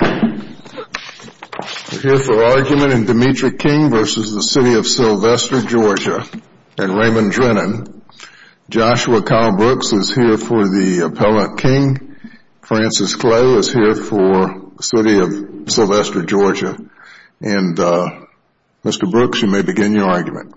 We're here for argument in Demetric King v. City of Sylvester Georgia and Raymond Drennan. Joshua Kyle Brooks is here for the Appellant King. Francis Clay is here for City of Sylvester Georgia. And Mr. Brooks, you may begin your argument.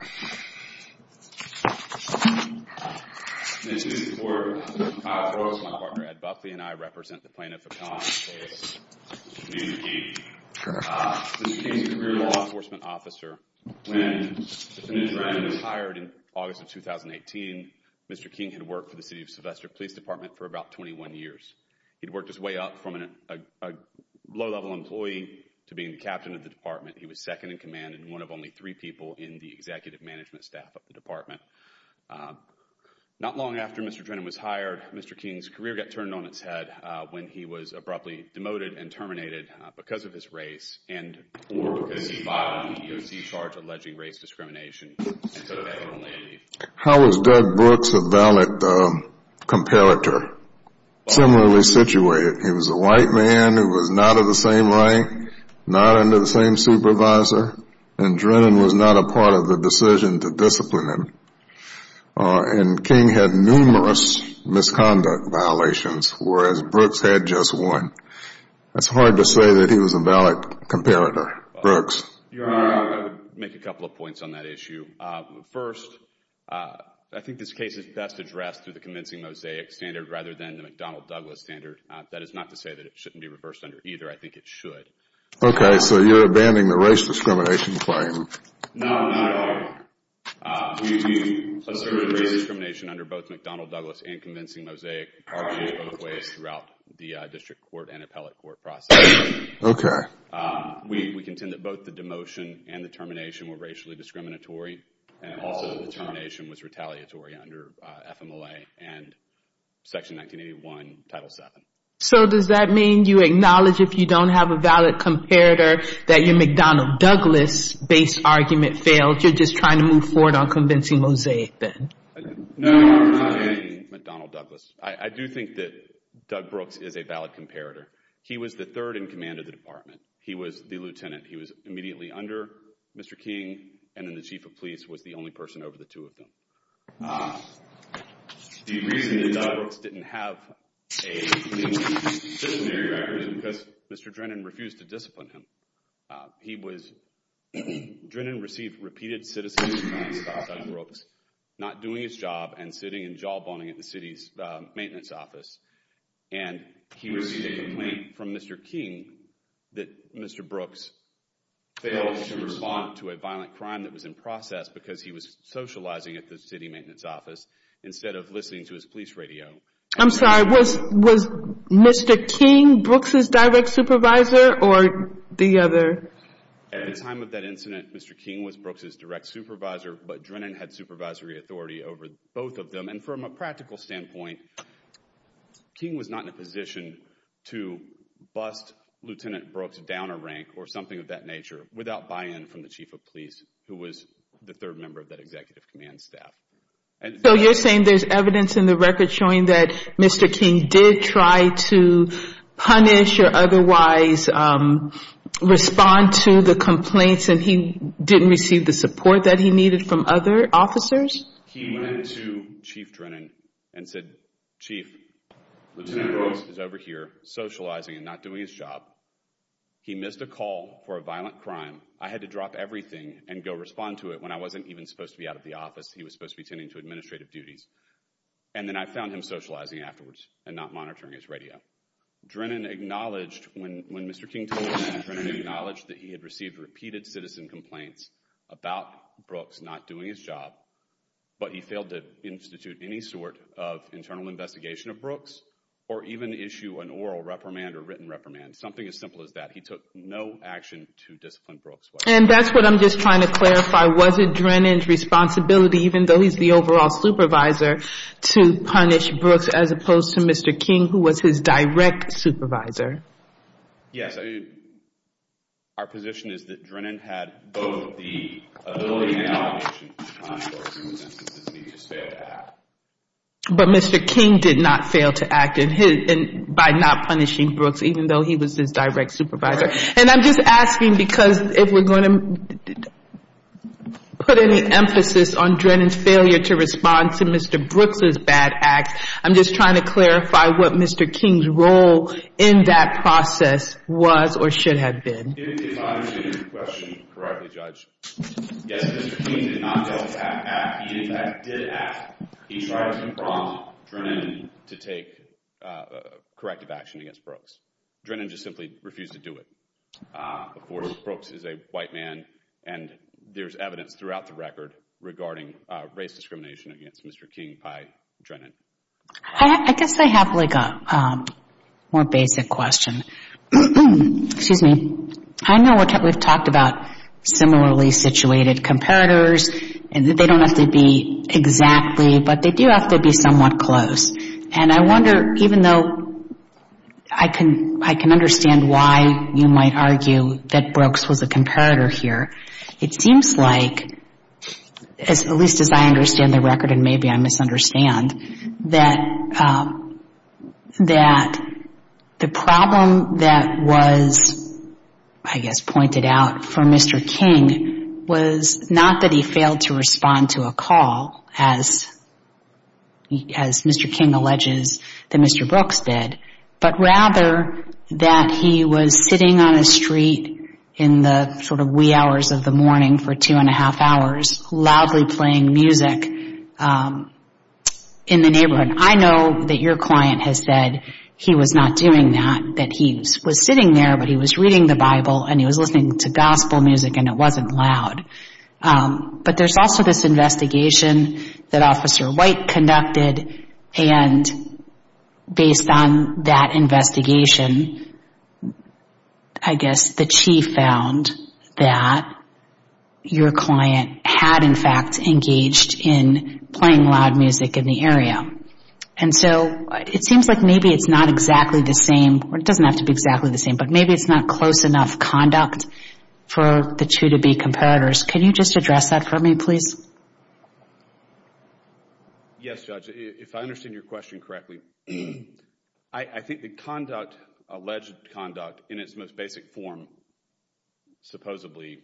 Mr. Brooks, my partner Ed Buckley, and I represent the plaintiff in the case of Mr. King. Mr. King is a career law enforcement officer. When Mr. Drennan was hired in August of 2018, Mr. King had worked for the City of Sylvester Police Department for about 21 years. He'd worked his way up from a low-level employee to being the captain of the department. He was second-in-command and one of only three people in the executive management staff of the department. Not long after Mr. Drennan was hired, Mr. King's career got turned on its head when he was abruptly demoted and terminated because of his race and because he violated the EEOC charge alleging race discrimination. How is Doug Brooks a valid competitor? Similarly situated, he was a white man who was not of the same rank, not under the same supervisor, and Drennan was not a part of the decision to discipline him. And King had numerous misconduct violations, whereas Brooks had just one. It's hard to say that he was a valid competitor, Brooks. Your Honor, I would make a couple of points on that issue. First, I think this case is best addressed through the convincing mosaic standard rather than the McDonnell-Douglas standard. That is not to say that it shouldn't be reversed under either. I think it should. Okay, so you're abandoning the race discrimination claim? No, not at all. We do assert race discrimination under both McDonnell-Douglas and convincing mosaic charges both ways throughout the district court and appellate court process. Okay. We contend that both the demotion and the termination were racially discriminatory, and also the termination was retaliatory under FMLA and Section 1981, Title VII. So does that mean you acknowledge if you don't have a valid comparator that your McDonnell-Douglas-based argument failed? You're just trying to move forward on convincing mosaic then? No, I'm not abandoning McDonnell-Douglas. I do think that Doug Brooks is a valid comparator. He was the third in command of the department. He was the lieutenant. He was immediately under Mr. King, and then the chief of police was the only person over the two of them. The reason that Doug Brooks didn't have a disciplinary record is because Mr. Drennan refused to discipline him. Drennan received repeated citizen complaints about Doug Brooks not doing his job and sitting and jawboning at the city's maintenance office, and he received a complaint from Mr. King that Mr. Brooks failed to respond to a violent crime that was in process because he was socializing at the city maintenance office instead of listening to his police radio. I'm sorry. Was Mr. King Brooks' direct supervisor or the other? At the time of that incident, Mr. King was Brooks' direct supervisor, but Drennan had supervisory authority over both of them, and from a practical standpoint, King was not in a position to bust Lieutenant Brooks down a rank or something of that nature without buy-in from the chief of police, who was the third member of that executive command staff. So you're saying there's evidence in the record showing that Mr. King did try to punish or otherwise respond to the complaints, and he didn't receive the support that he needed from other officers? He went to Chief Drennan and said, Chief, Lieutenant Brooks is over here socializing and not doing his job. He missed a call for a violent crime. I had to drop everything and go respond to it when I wasn't even supposed to be out of the office. He was supposed to be tending to administrative duties. And then I found him socializing afterwards and not monitoring his radio. Drennan acknowledged when Mr. King told him that, Drennan acknowledged that he had received repeated citizen complaints about Brooks not doing his job, but he failed to institute any sort of internal investigation of Brooks or even issue an oral reprimand or written reprimand, something as simple as that. He took no action to discipline Brooks. And that's what I'm just trying to clarify. Was it Drennan's responsibility, even though he's the overall supervisor, to punish Brooks as opposed to Mr. King, who was his direct supervisor? Yes. Our position is that Drennan had both the ability and the autonomy to respond to Brooks in those instances, and he just failed to act. But Mr. King did not fail to act by not punishing Brooks, even though he was his direct supervisor. And I'm just asking because if we're going to put any emphasis on Drennan's failure to respond to Mr. Brooks' bad act, I'm just trying to clarify what Mr. King's role in that process was or should have been. If I understand your question correctly, Judge, yes, Mr. King did not fail to act. He, in fact, did act. He tried to prompt Drennan to take corrective action against Brooks. Drennan just simply refused to do it. Of course, Brooks is a white man, and there's evidence throughout the record regarding race discrimination against Mr. King by Drennan. I guess I have like a more basic question. Excuse me. I know we've talked about similarly situated comparators, and they don't have to be exactly, but they do have to be somewhat close. And I wonder, even though I can understand why you might argue that Brooks was a comparator here, it seems like, at least as I understand the record and maybe I misunderstand, that the problem that was, I guess, pointed out for Mr. King was not that he failed to respond to a call, as Mr. King alleges that Mr. Brooks did, but rather that he was sitting on a street in the sort of wee hours of the morning for two and a half hours loudly playing music in the neighborhood. I know that your client has said he was not doing that, that he was sitting there, but he was reading the Bible and he was listening to gospel music and it wasn't loud. But there's also this investigation that Officer White conducted, and based on that investigation, I guess the chief found that your client had, in fact, engaged in playing loud music in the area. And so it seems like maybe it's not exactly the same, or it doesn't have to be exactly the same, but maybe it's not close enough conduct for the two to be comparators. Can you just address that for me, please? Yes, Judge. If I understand your question correctly, I think the conduct, alleged conduct, in its most basic form, supposedly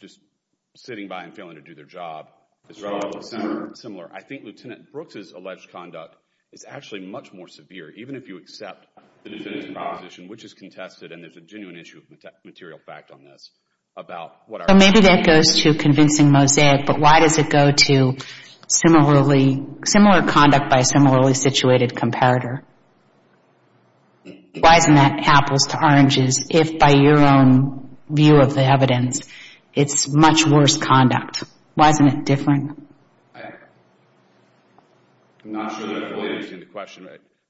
just sitting by and failing to do their job is relatively similar. I think Lieutenant Brooks' alleged conduct is actually much more severe, even if you accept the defendant's proposition, which is contested, and there's a genuine issue of material fact on this. So maybe that goes to convincing Mosaic, but why does it go to similar conduct by a similarly situated comparator? Why isn't that apples to oranges if, by your own view of the evidence, it's much worse conduct? Why isn't it different? I'm not sure that I fully understand the question.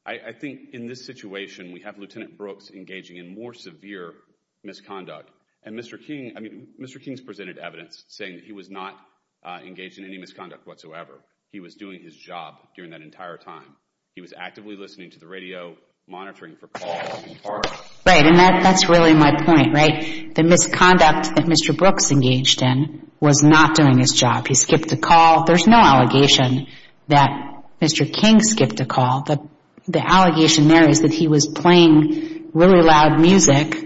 I think in this situation we have Lieutenant Brooks engaging in more severe misconduct, and Mr. King's presented evidence saying that he was not engaged in any misconduct whatsoever. He was doing his job during that entire time. He was actively listening to the radio, monitoring for calls. Right, and that's really my point, right? The misconduct that Mr. Brooks engaged in was not doing his job. He skipped a call. There's no allegation that Mr. King skipped a call. The allegation there is that he was playing really loud music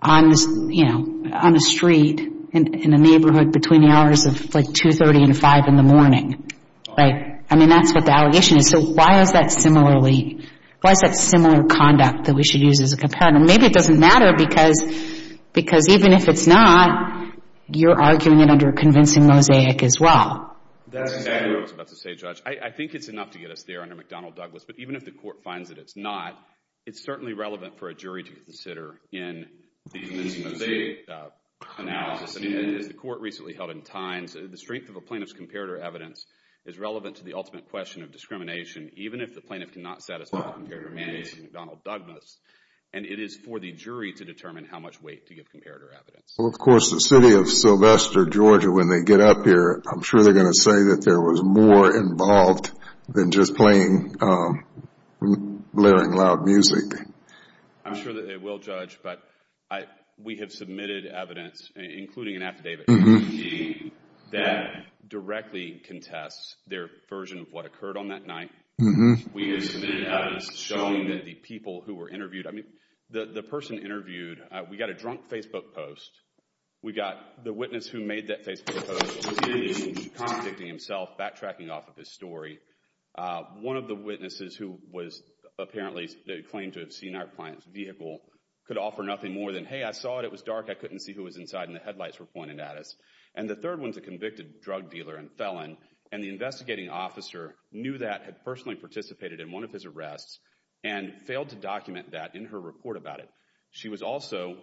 on a street in a neighborhood between the hours of, like, 2.30 and 5 in the morning, right? I mean, that's what the allegation is. So why is that similar conduct that we should use as a comparator? Maybe it doesn't matter because even if it's not, you're arguing it under convincing mosaic as well. That's exactly what I was about to say, Judge. I think it's enough to get us there under McDonnell-Douglas, but even if the court finds that it's not, it's certainly relevant for a jury to consider in the convincing mosaic analysis. As the court recently held in Times, the strength of a plaintiff's comparator evidence is relevant to the ultimate question of discrimination, even if the plaintiff cannot satisfy the comparator managing McDonnell-Douglas. And it is for the jury to determine how much weight to give comparator evidence. Well, of course, the city of Sylvester, Georgia, when they get up here, I'm sure they're going to say that there was more involved than just playing, blaring loud music. I'm sure that they will, Judge, but we have submitted evidence, including an affidavit, that directly contests their version of what occurred on that night. We have submitted evidence showing that the people who were interviewed, I mean, the person interviewed, we got a drunk Facebook post. We got the witness who made that Facebook post contradicting himself, backtracking off of his story. One of the witnesses who was apparently claimed to have seen our client's vehicle could offer nothing more than, hey, I saw it, it was dark, I couldn't see who was inside, and the headlights were pointed at us. And the third one's a convicted drug dealer and felon, and the investigating officer knew that, had personally participated in one of his arrests, and failed to document that in her report about it. She was also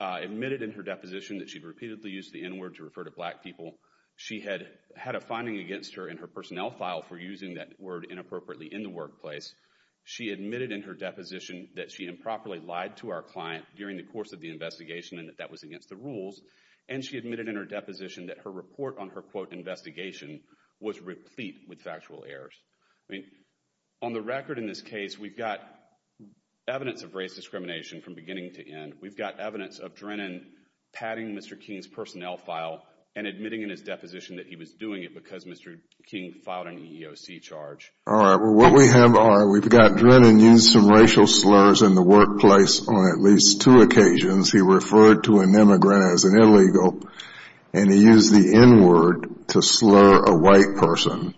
admitted in her deposition that she repeatedly used the N-word to refer to black people. She had a finding against her in her personnel file for using that word inappropriately in the workplace. She admitted in her deposition that she improperly lied to our client during the course of the investigation and that that was against the rules. And she admitted in her deposition that her report on her, quote, investigation was replete with factual errors. I mean, on the record in this case, we've got evidence of race discrimination from beginning to end. We've got evidence of Drennan patting Mr. King's personnel file and admitting in his deposition that he was doing it because Mr. King filed an EEOC charge. All right, well, what we have are we've got Drennan use some racial slurs in the workplace on at least two occasions. He referred to an immigrant as an illegal, and he used the N-word to slur a white person,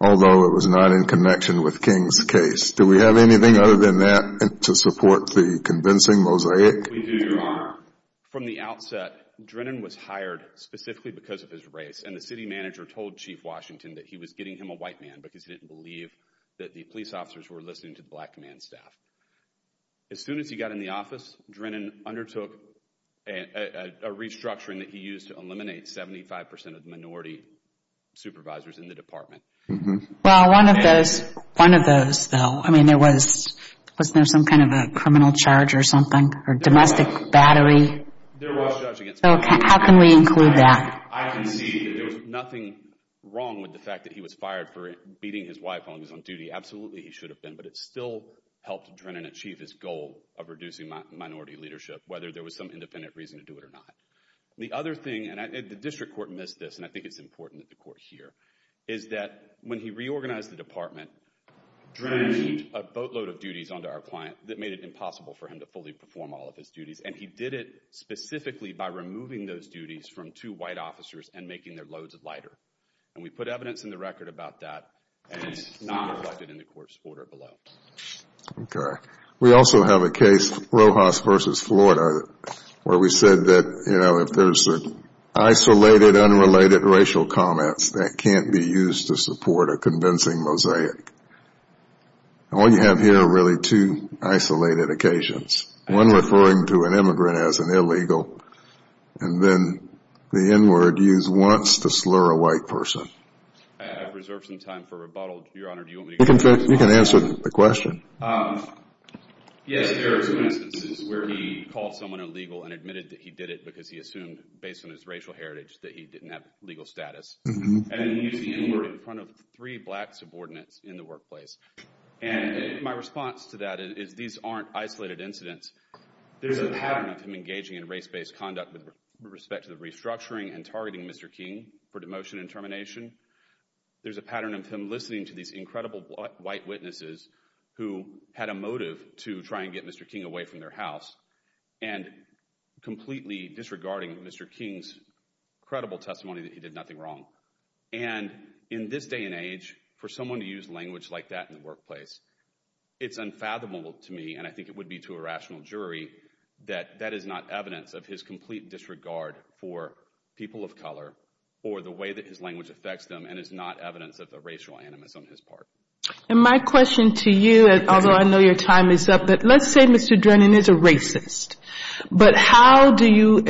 although it was not in connection with King's case. Do we have anything other than that to support the convincing mosaic? We do, Your Honor. From the outset, Drennan was hired specifically because of his race, and the city manager told Chief Washington that he was getting him a white man because he didn't believe that the police officers were listening to the black man's staff. As soon as he got in the office, Drennan undertook a restructuring that he used to eliminate 75 percent of the minority supervisors in the department. Well, one of those, though, I mean, was there some kind of a criminal charge or something or domestic battery? There was. So how can we include that? I can see that there was nothing wrong with the fact that he was fired for beating his wife while he was on duty. Absolutely, he should have been, but it still helped Drennan achieve his goal of reducing minority leadership, whether there was some independent reason to do it or not. The other thing, and the district court missed this, and I think it's important that the court hear, is that when he reorganized the department, Drennan put a boatload of duties onto our client that made it impossible for him to fully perform all of his duties, and he did it specifically by removing those duties from two white officers and making their loads lighter. And we put evidence in the record about that, and it's not reflected in the court's order below. Okay. We also have a case, Rojas v. Florida, where we said that, you know, if there's isolated, unrelated racial comments that can't be used to support a convincing mosaic, all you have here are really two isolated occasions, one referring to an immigrant as an illegal, and then the N-word used once to slur a white person. I've reserved some time for rebuttal, Your Honor. You can answer the question. Yes, there are some instances where he called someone illegal and admitted that he did it because he assumed, based on his racial heritage, that he didn't have legal status. And he used the N-word in front of three black subordinates in the workplace. And my response to that is these aren't isolated incidents. There's a pattern of him engaging in race-based conduct with respect to the restructuring and targeting Mr. King for demotion and termination. There's a pattern of him listening to these incredible white witnesses who had a motive to try and get Mr. King away from their house and completely disregarding Mr. King's credible testimony that he did nothing wrong. And in this day and age, for someone to use language like that in the workplace, it's unfathomable to me, and I think it would be to a rational jury, that that is not evidence of his complete disregard for people of color or the way that his language affects them and is not evidence of a racial animus on his part. And my question to you, although I know your time is up, but let's say Mr. Drennan is a racist. But how do you,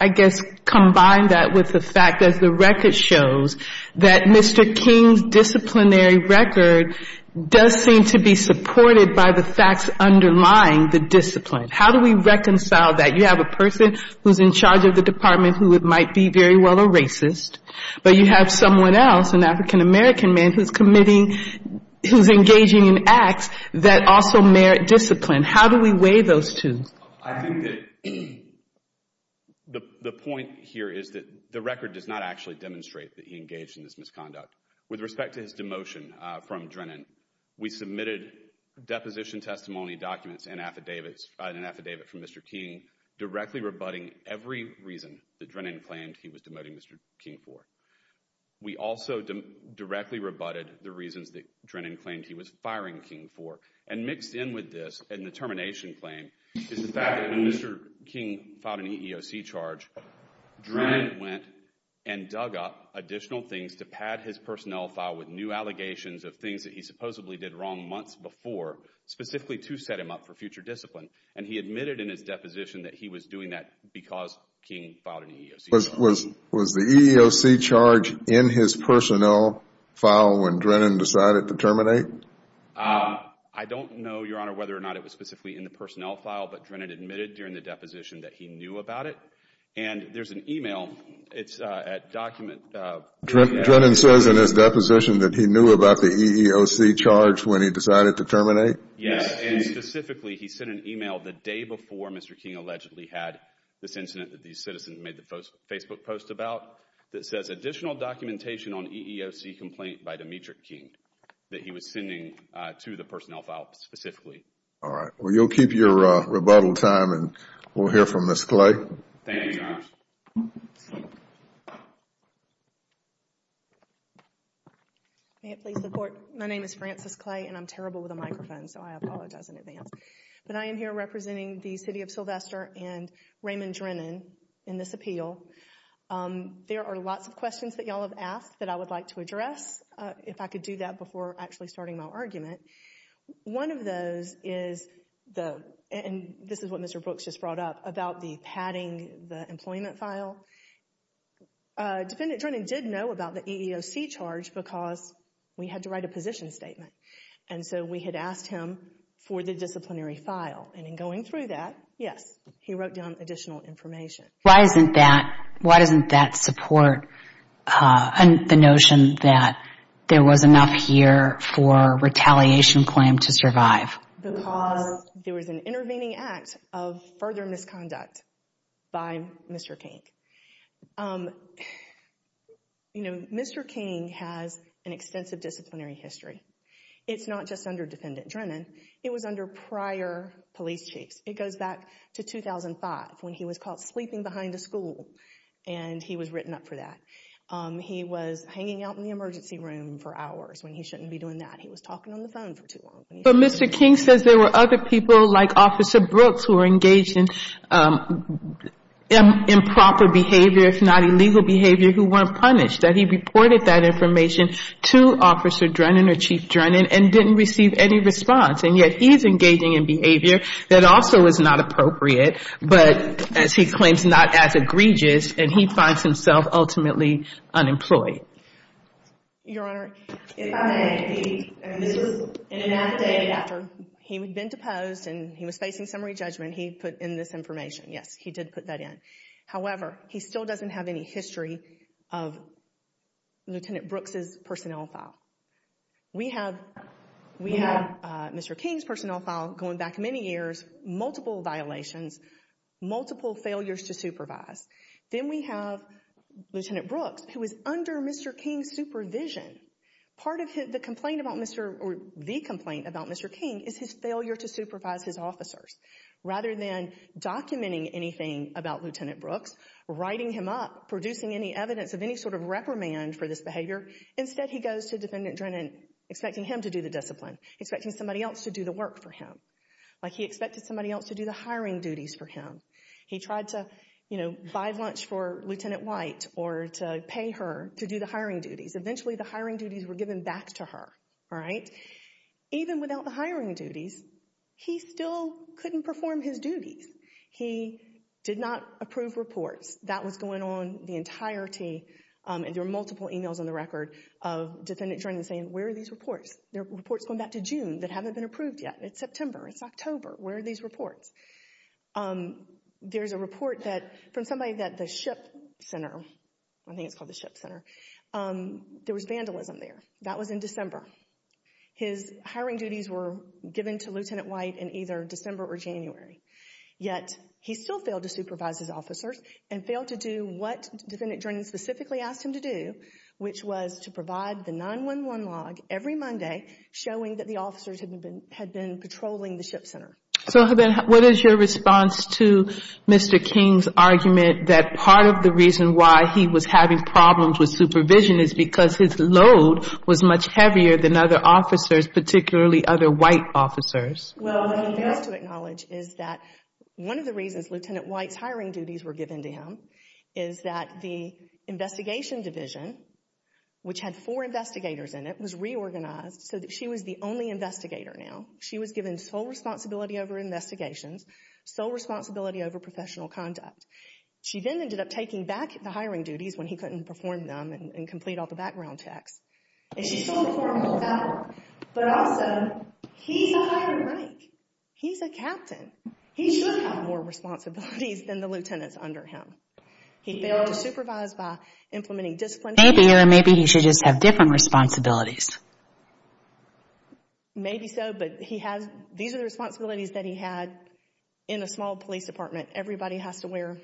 I guess, combine that with the fact that the record shows that Mr. King's disciplinary record does seem to be supported by the facts underlying the discipline? How do we reconcile that? You have a person who's in charge of the department who might be very well a racist, but you have someone else, an African-American man, who's engaging in acts that also merit discipline. How do we weigh those two? I think that the point here is that the record does not actually demonstrate that he engaged in this misconduct. With respect to his demotion from Drennan, we submitted deposition testimony documents and an affidavit from Mr. King directly rebutting every reason that Drennan claimed he was demoting Mr. King for. We also directly rebutted the reasons that Drennan claimed he was firing King for. And mixed in with this, in the termination claim, is the fact that when Mr. King filed an EEOC charge, Drennan went and dug up additional things to pad his personnel file with new allegations of things that he supposedly did wrong months before specifically to set him up for future discipline. And he admitted in his deposition that he was doing that because King filed an EEOC charge. Was the EEOC charge in his personnel file when Drennan decided to terminate? I don't know, Your Honor, whether or not it was specifically in the personnel file, but Drennan admitted during the deposition that he knew about it. And there's an email. It's at document. Drennan says in his deposition that he knew about the EEOC charge when he decided to terminate? Yes, and specifically he sent an email the day before Mr. King allegedly had this incident that these citizens made the Facebook post about that says, additional documentation on EEOC complaint by Demetrius King that he was sending to the personnel file specifically. All right. Well, you'll keep your rebuttal time, and we'll hear from Ms. Clay. Thank you, Your Honor. May it please the Court. My name is Frances Clay, and I'm terrible with a microphone, so I apologize in advance. But I am here representing the City of Sylvester and Raymond Drennan in this appeal. There are lots of questions that you all have asked that I would like to address, if I could do that before actually starting my argument. One of those is, and this is what Mr. Brooks just brought up, about the padding, the employment file. Defendant Drennan did know about the EEOC charge because we had to write a position statement. And so we had asked him for the disciplinary file. And in going through that, yes, he wrote down additional information. Why doesn't that support the notion that there was enough here for a retaliation claim to survive? Because there was an intervening act of further misconduct by Mr. King. You know, Mr. King has an extensive disciplinary history. It's not just under Defendant Drennan. It was under prior police chiefs. It goes back to 2005 when he was caught sleeping behind a school, and he was written up for that. He was hanging out in the emergency room for hours when he shouldn't be doing that. He was talking on the phone for too long. But Mr. King says there were other people like Officer Brooks who were engaged in improper behavior, if not illegal behavior, who weren't punished. That he reported that information to Officer Drennan or Chief Drennan and didn't receive any response. And yet he is engaging in behavior that also is not appropriate, but as he claims, not as egregious, and he finds himself ultimately unemployed. Your Honor, if I may, this was in and out the day after he had been deposed and he was facing summary judgment, he put in this information. Yes, he did put that in. However, he still doesn't have any history of Lieutenant Brooks' personnel file. We have Mr. King's personnel file going back many years, multiple violations, multiple failures to supervise. Then we have Lieutenant Brooks, who is under Mr. King's supervision. Part of the complaint about Mr. or the complaint about Mr. King is his failure to supervise his officers. Rather than documenting anything about Lieutenant Brooks, writing him up, producing any evidence of any sort of reprimand for this behavior, instead he goes to Defendant Drennan expecting him to do the discipline, expecting somebody else to do the work for him. Like he expected somebody else to do the hiring duties for him. He tried to, you know, buy lunch for Lieutenant White or to pay her to do the hiring duties. Eventually the hiring duties were given back to her, all right? Even without the hiring duties, he still couldn't perform his duties. He did not approve reports. That was going on the entirety, and there were multiple emails on the record of Defendant Drennan saying, where are these reports? There are reports going back to June that haven't been approved yet. It's September, it's October. Where are these reports? There's a report from somebody at the SHIP Center. I think it's called the SHIP Center. There was vandalism there. That was in December. His hiring duties were given to Lieutenant White in either December or January. Yet he still failed to supervise his officers and failed to do what Defendant Drennan specifically asked him to do, which was to provide the 911 log every Monday showing that the officers had been patrolling the SHIP Center. So what is your response to Mr. King's argument that part of the reason why he was having problems with supervision is because his load was much heavier than other officers, particularly other white officers? Well, what he fails to acknowledge is that one of the reasons Lieutenant White's hiring duties were given to him is that the investigation division, which had four investigators in it, was reorganized so that she was the only investigator now. She was given sole responsibility over investigations, sole responsibility over professional conduct. She then ended up taking back the hiring duties when he couldn't perform them and complete all the background checks. And she still performed them all. But also, he's a hired rank. He's a captain. He should have more responsibilities than the lieutenants under him. He failed to supervise by implementing discipline. Maybe, or maybe he should just have different responsibilities. Maybe so, but these are the responsibilities that he had in a small police department. Everybody has to wear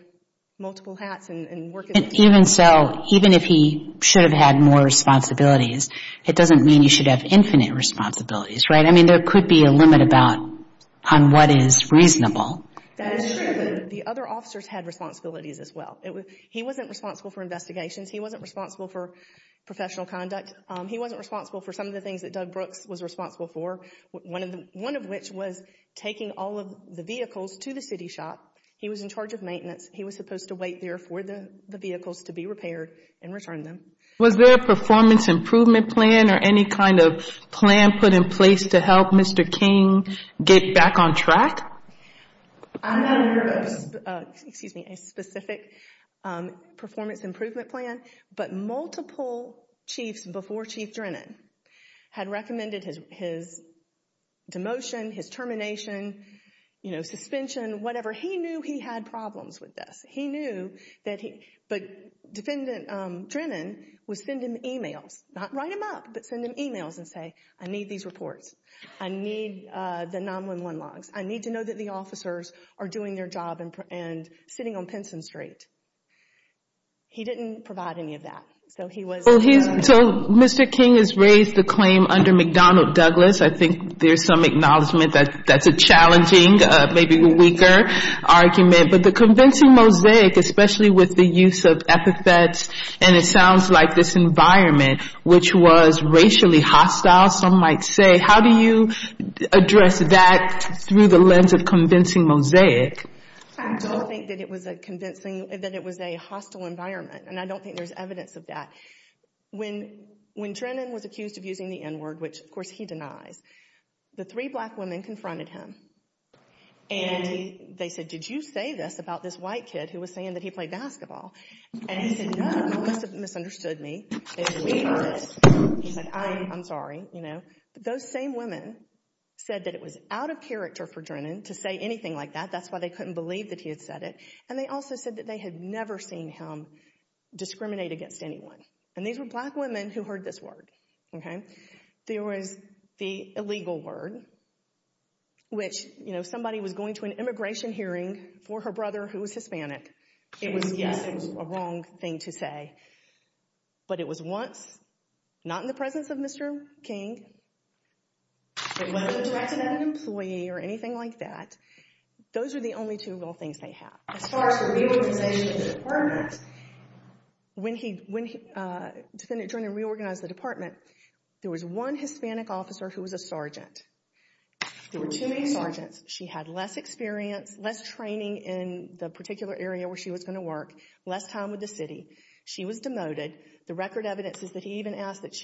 multiple hats and work as a team. Even so, even if he should have had more responsibilities, it doesn't mean you should have infinite responsibilities, right? I mean, there could be a limit about on what is reasonable. That is true, but the other officers had responsibilities as well. He wasn't responsible for investigations. He wasn't responsible for professional conduct. He wasn't responsible for some of the things that Doug Brooks was responsible for, one of which was taking all of the vehicles to the city shop. He was in charge of maintenance. He was supposed to wait there for the vehicles to be repaired and return them. Was there a performance improvement plan or any kind of plan put in place to help Mr. King get back on track? I'm not aware of a specific performance improvement plan, but multiple chiefs before Chief Drennan had recommended his demotion, his termination, you know, suspension, whatever. He knew he had problems with this. He knew that he, but Defendant Drennan would send him e-mails, not write him up, but send him e-mails and say, I need these reports. I need the 911 logs. I need to know that the officers are doing their job and sitting on Pinson Street. He didn't provide any of that, so he was. So Mr. King has raised the claim under McDonnell Douglas. I think there's some acknowledgment that that's a challenging, maybe weaker argument. But the convincing mosaic, especially with the use of epithets and it sounds like this environment, which was racially hostile, some might say, how do you address that through the lens of convincing mosaic? I don't think that it was a convincing, that it was a hostile environment, and I don't think there's evidence of that. When Drennan was accused of using the N-word, which, of course, he denies, the three black women confronted him and they said, did you say this about this white kid who was saying that he played basketball? And he said, no, you must have misunderstood me. He said, I'm sorry, you know. Those same women said that it was out of character for Drennan to say anything like that. That's why they couldn't believe that he had said it. And they also said that they had never seen him discriminate against anyone. And these were black women who heard this word. There was the illegal word, which, you know, somebody was going to an immigration hearing for her brother who was Hispanic. It was a wrong thing to say. But it was once, not in the presence of Mr. King. It wasn't directed at an employee or anything like that. Those are the only two little things they have. As far as the reorganization of the department, when Drennan reorganized the department, there was one Hispanic officer who was a sergeant. There were too many sergeants. She had less experience, less training in the particular area where she was going to work, less time with the city. She was demoted. The record evidence is that he even asked that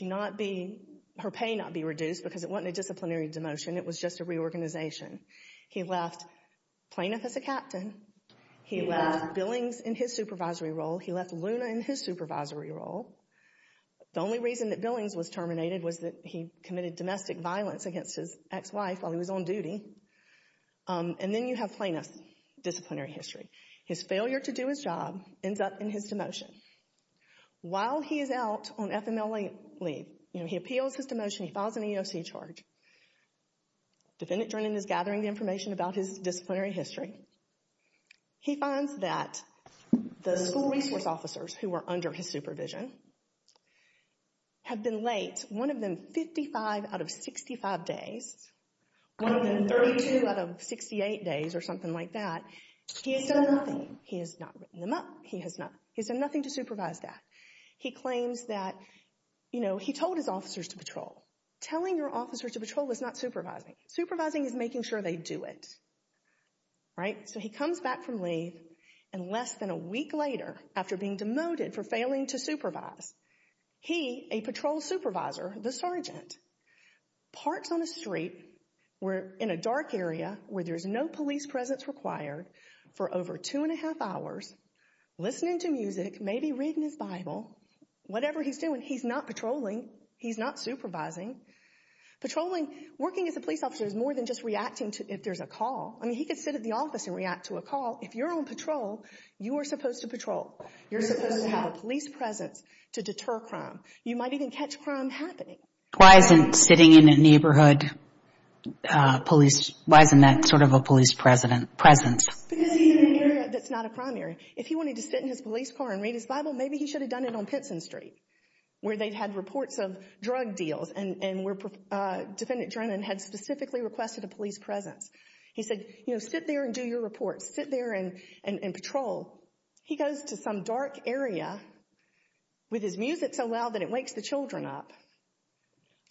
her pay not be reduced because it wasn't a disciplinary demotion. It was just a reorganization. He left Planoff as a captain. He left Billings in his supervisory role. He left Luna in his supervisory role. The only reason that Billings was terminated was that he committed domestic violence against his ex-wife while he was on duty. And then you have Planoff's disciplinary history. His failure to do his job ends up in his demotion. While he is out on FMLA leave, you know, he appeals his demotion. He files an EOC charge. Defendant Drennan is gathering the information about his disciplinary history. He finds that the school resource officers who were under his supervision have been late, one of them 55 out of 65 days, one of them 32 out of 68 days or something like that. He has done nothing. He has not written them up. He has not. He has done nothing to supervise that. He claims that, you know, he told his officers to patrol. Telling your officers to patrol is not supervising. Supervising is making sure they do it. Right? So he comes back from leave, and less than a week later, after being demoted for failing to supervise, he, a patrol supervisor, the sergeant, parks on a street in a dark area where there is no police presence required for over two and a half hours, listening to music, maybe reading his Bible, whatever he's doing, he's not patrolling. He's not supervising. Patrolling, working as a police officer is more than just reacting if there's a call. I mean, he could sit at the office and react to a call. If you're on patrol, you are supposed to patrol. You're supposed to have a police presence to deter crime. You might even catch crime happening. Why isn't sitting in a neighborhood police, why isn't that sort of a police presence? Because he's in an area that's not a crime area. If he wanted to sit in his police car and read his Bible, maybe he should have done it on Pinson Street, where they had reports of drug deals, and where Defendant Drennan had specifically requested a police presence. He said, you know, sit there and do your reports. Sit there and patrol. He goes to some dark area with his music so loud that it wakes the children up.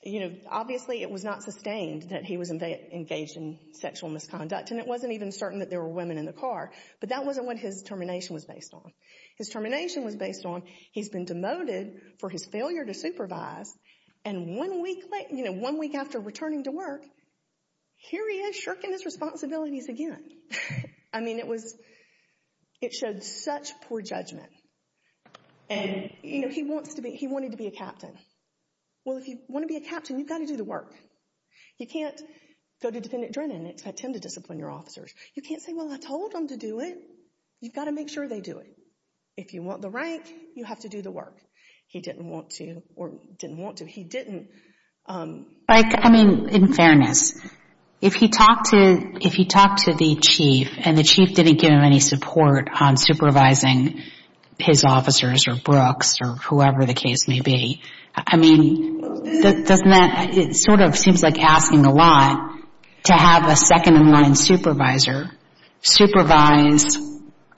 You know, obviously it was not sustained that he was engaged in sexual misconduct, and it wasn't even certain that there were women in the car. But that wasn't what his termination was based on. His termination was based on he's been demoted for his failure to supervise, and one week after returning to work, here he is shirking his responsibilities again. I mean, it showed such poor judgment. And, you know, he wanted to be a captain. Well, if you want to be a captain, you've got to do the work. You can't go to Defendant Drennan and expect him to discipline your officers. You can't say, well, I told them to do it. You've got to make sure they do it. If you want the rank, you have to do the work. He didn't want to, or didn't want to. He didn't. Like, I mean, in fairness, if he talked to the chief, and the chief didn't give him any support on supervising his officers or Brooks or whoever the case may be, I mean, doesn't that, it sort of seems like asking a lot to have a second-in-line supervisor supervise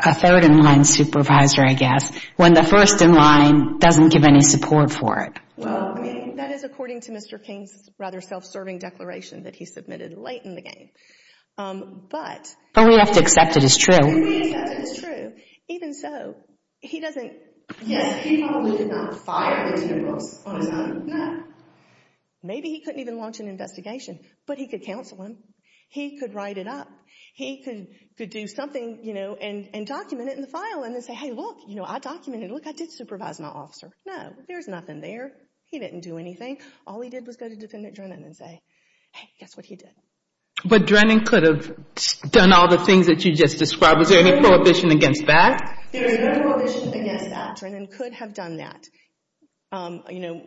a third-in-line supervisor, I guess, when the first-in-line doesn't give any support for it. That is according to Mr. King's rather self-serving declaration that he submitted late in the game. But we have to accept it as true. We accept it as true. Even so, he doesn't, yes, he probably did not fire Mr. Brooks on his own. No. Maybe he couldn't even launch an investigation, but he could counsel him. He could write it up. He could do something, you know, and document it in the file and then say, hey, look, you know, I documented it. Look, I did supervise my officer. No, there's nothing there. He didn't do anything. All he did was go to Defendant Drennan and say, hey, guess what he did. But Drennan could have done all the things that you just described. Is there any prohibition against that? There is no prohibition against that. Drennan could have done that, you know,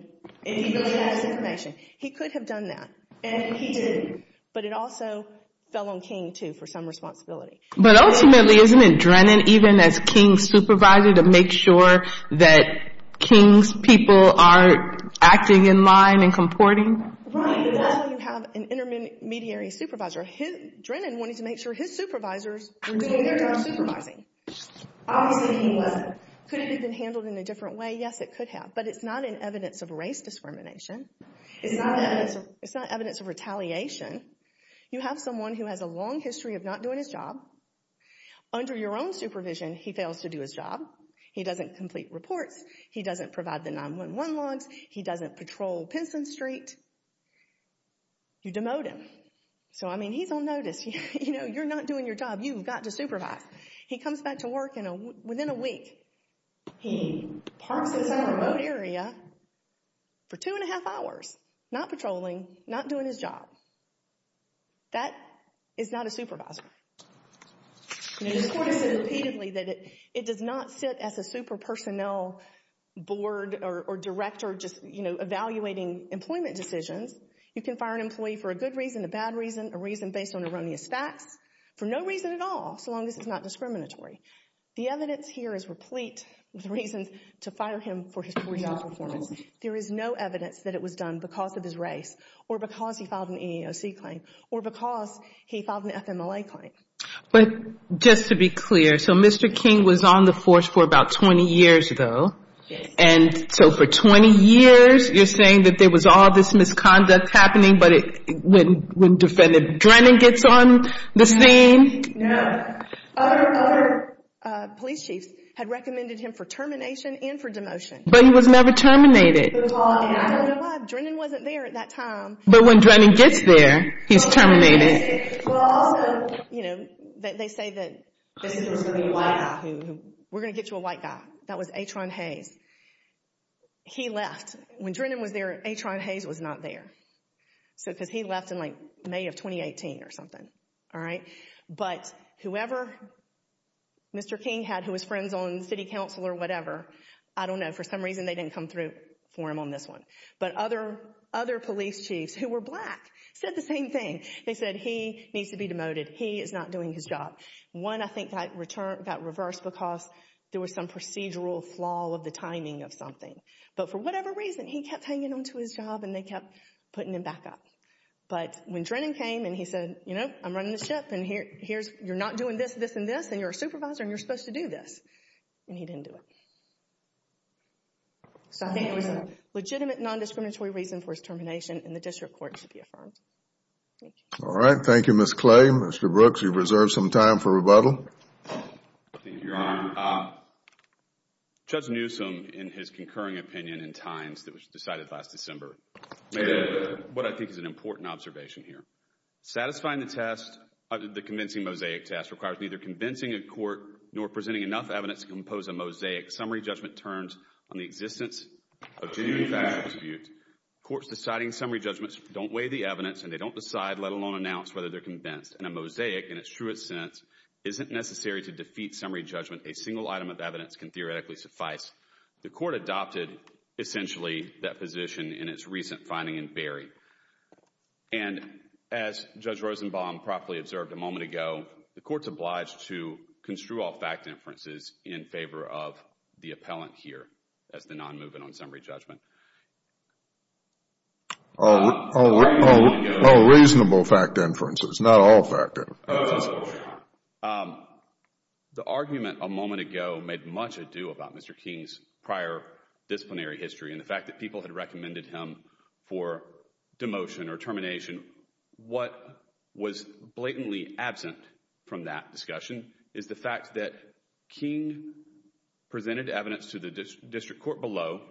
if he really had his information. He could have done that. And he did. But it also fell on King, too, for some responsibility. But ultimately, isn't it Drennan, even as King's supervisor, to make sure that King's people are acting in line and comporting? Right. Even though you have an intermediary supervisor, Drennan wanted to make sure his supervisors were doing their job supervising. Obviously, he wasn't. Could it have been handled in a different way? Yes, it could have. But it's not in evidence of race discrimination. It's not evidence of retaliation. You have someone who has a long history of not doing his job. Under your own supervision, he fails to do his job. He doesn't complete reports. He doesn't provide the 911 logs. He doesn't patrol Pinson Street. You demote him. So, I mean, he's on notice. You know, you're not doing your job. You've got to supervise. He comes back to work within a week. He parks in some remote area for two and a half hours, not patrolling, not doing his job. That is not a supervisor. This court has said repeatedly that it does not sit as a super personnel board or director just, you know, evaluating employment decisions. You can fire an employee for a good reason, a bad reason, a reason based on erroneous facts, for no reason at all, so long as it's not discriminatory. The evidence here is replete with reasons to fire him for his poor job performance. There is no evidence that it was done because of his race or because he filed an EEOC claim or because he filed an FMLA claim. But just to be clear, so Mr. King was on the force for about 20 years, though. Yes. And so for 20 years, you're saying that there was all this misconduct happening, but when Defendant Drennan gets on the scene? No. Other police chiefs had recommended him for termination and for demotion. But he was never terminated. I don't know why. Drennan wasn't there at that time. But when Drennan gets there, he's terminated. Well, also, you know, they say that this is going to be a white guy. We're going to get you a white guy. That was Atron Hayes. He left. When Drennan was there, Atron Hayes was not there, because he left in, like, May of 2018 or something, all right? But whoever Mr. King had who was friends on city council or whatever, I don't know. For some reason, they didn't come through for him on this one. But other police chiefs who were black said the same thing. They said he needs to be demoted. He is not doing his job. One, I think, got reversed because there was some procedural flaw of the timing of something. But for whatever reason, he kept hanging on to his job, and they kept putting him back up. But when Drennan came and he said, you know, I'm running the ship, and you're not doing this, this, and this, and you're a supervisor, and you're supposed to do this, and he didn't do it. So I think it was a legitimate non-discriminatory reason for his termination, and the district court should be affirmed. All right. Thank you, Ms. Clay. Mr. Brooks, you've reserved some time for rebuttal. Thank you, Your Honor. Judge Newsom, in his concurring opinion in times that was decided last December, made what I think is an important observation here. Satisfying the test, the convincing mosaic test, requires neither convincing a court nor presenting enough evidence to compose a mosaic summary judgment terms on the existence of genuine factual dispute. Courts deciding summary judgments don't weigh the evidence, and they don't decide, let alone announce, whether they're convinced. And a mosaic, in its truest sense, isn't necessary to defeat summary judgment. A single item of evidence can theoretically suffice. The court adopted, essentially, that position in its recent finding in Berry. And as Judge Rosenbaum properly observed a moment ago, the court's obliged to construe all fact inferences in favor of the appellant here as the non-movement on summary judgment. All reasonable fact inferences, not all fact inferences. The argument a moment ago made much ado about Mr. King's prior disciplinary history and the fact that people had recommended him for demotion or termination. What was blatantly absent from that discussion is the fact that King presented evidence to the district court below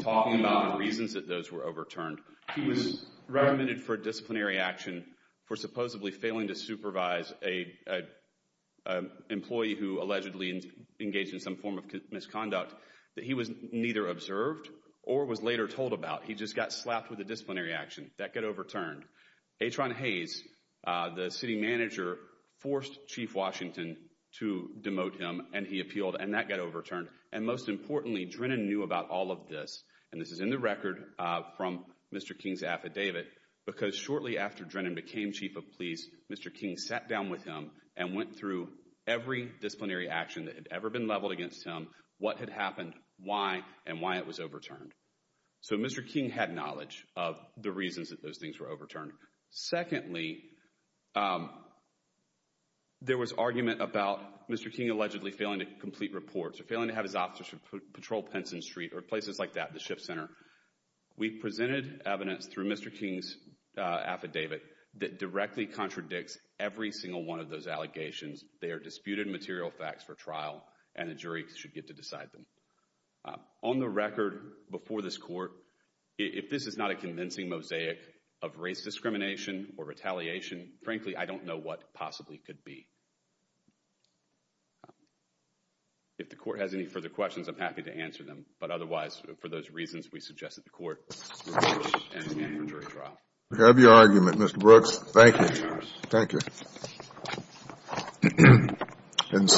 talking about the reasons that those were overturned. He was recommended for disciplinary action for supposedly failing to supervise an employee who allegedly engaged in some form of misconduct that he was neither observed or was later told about. He just got slapped with a disciplinary action. That got overturned. Atron Hayes, the city manager, forced Chief Washington to demote him, and he appealed, and that got overturned. And most importantly, Drennan knew about all of this, and this is in the record from Mr. King's affidavit, because shortly after Drennan became Chief of Police, Mr. King sat down with him and went through every disciplinary action that had ever been leveled against him, what had happened, why, and why it was overturned. So Mr. King had knowledge of the reasons that those things were overturned. Secondly, there was argument about Mr. King allegedly failing to complete reports or failing to have his officers patrol Penson Street or places like that, the SHIP Center. We presented evidence through Mr. King's affidavit that directly contradicts every single one of those allegations. They are disputed material facts for trial, and the jury should get to decide them. On the record before this court, if this is not a convincing mosaic of race discrimination or retaliation, frankly, I don't know what possibly could be. If the court has any further questions, I'm happy to answer them. But otherwise, for those reasons, we suggest that the court end the jury trial. We have your argument, Mr. Brooks. Thank you. Thank you.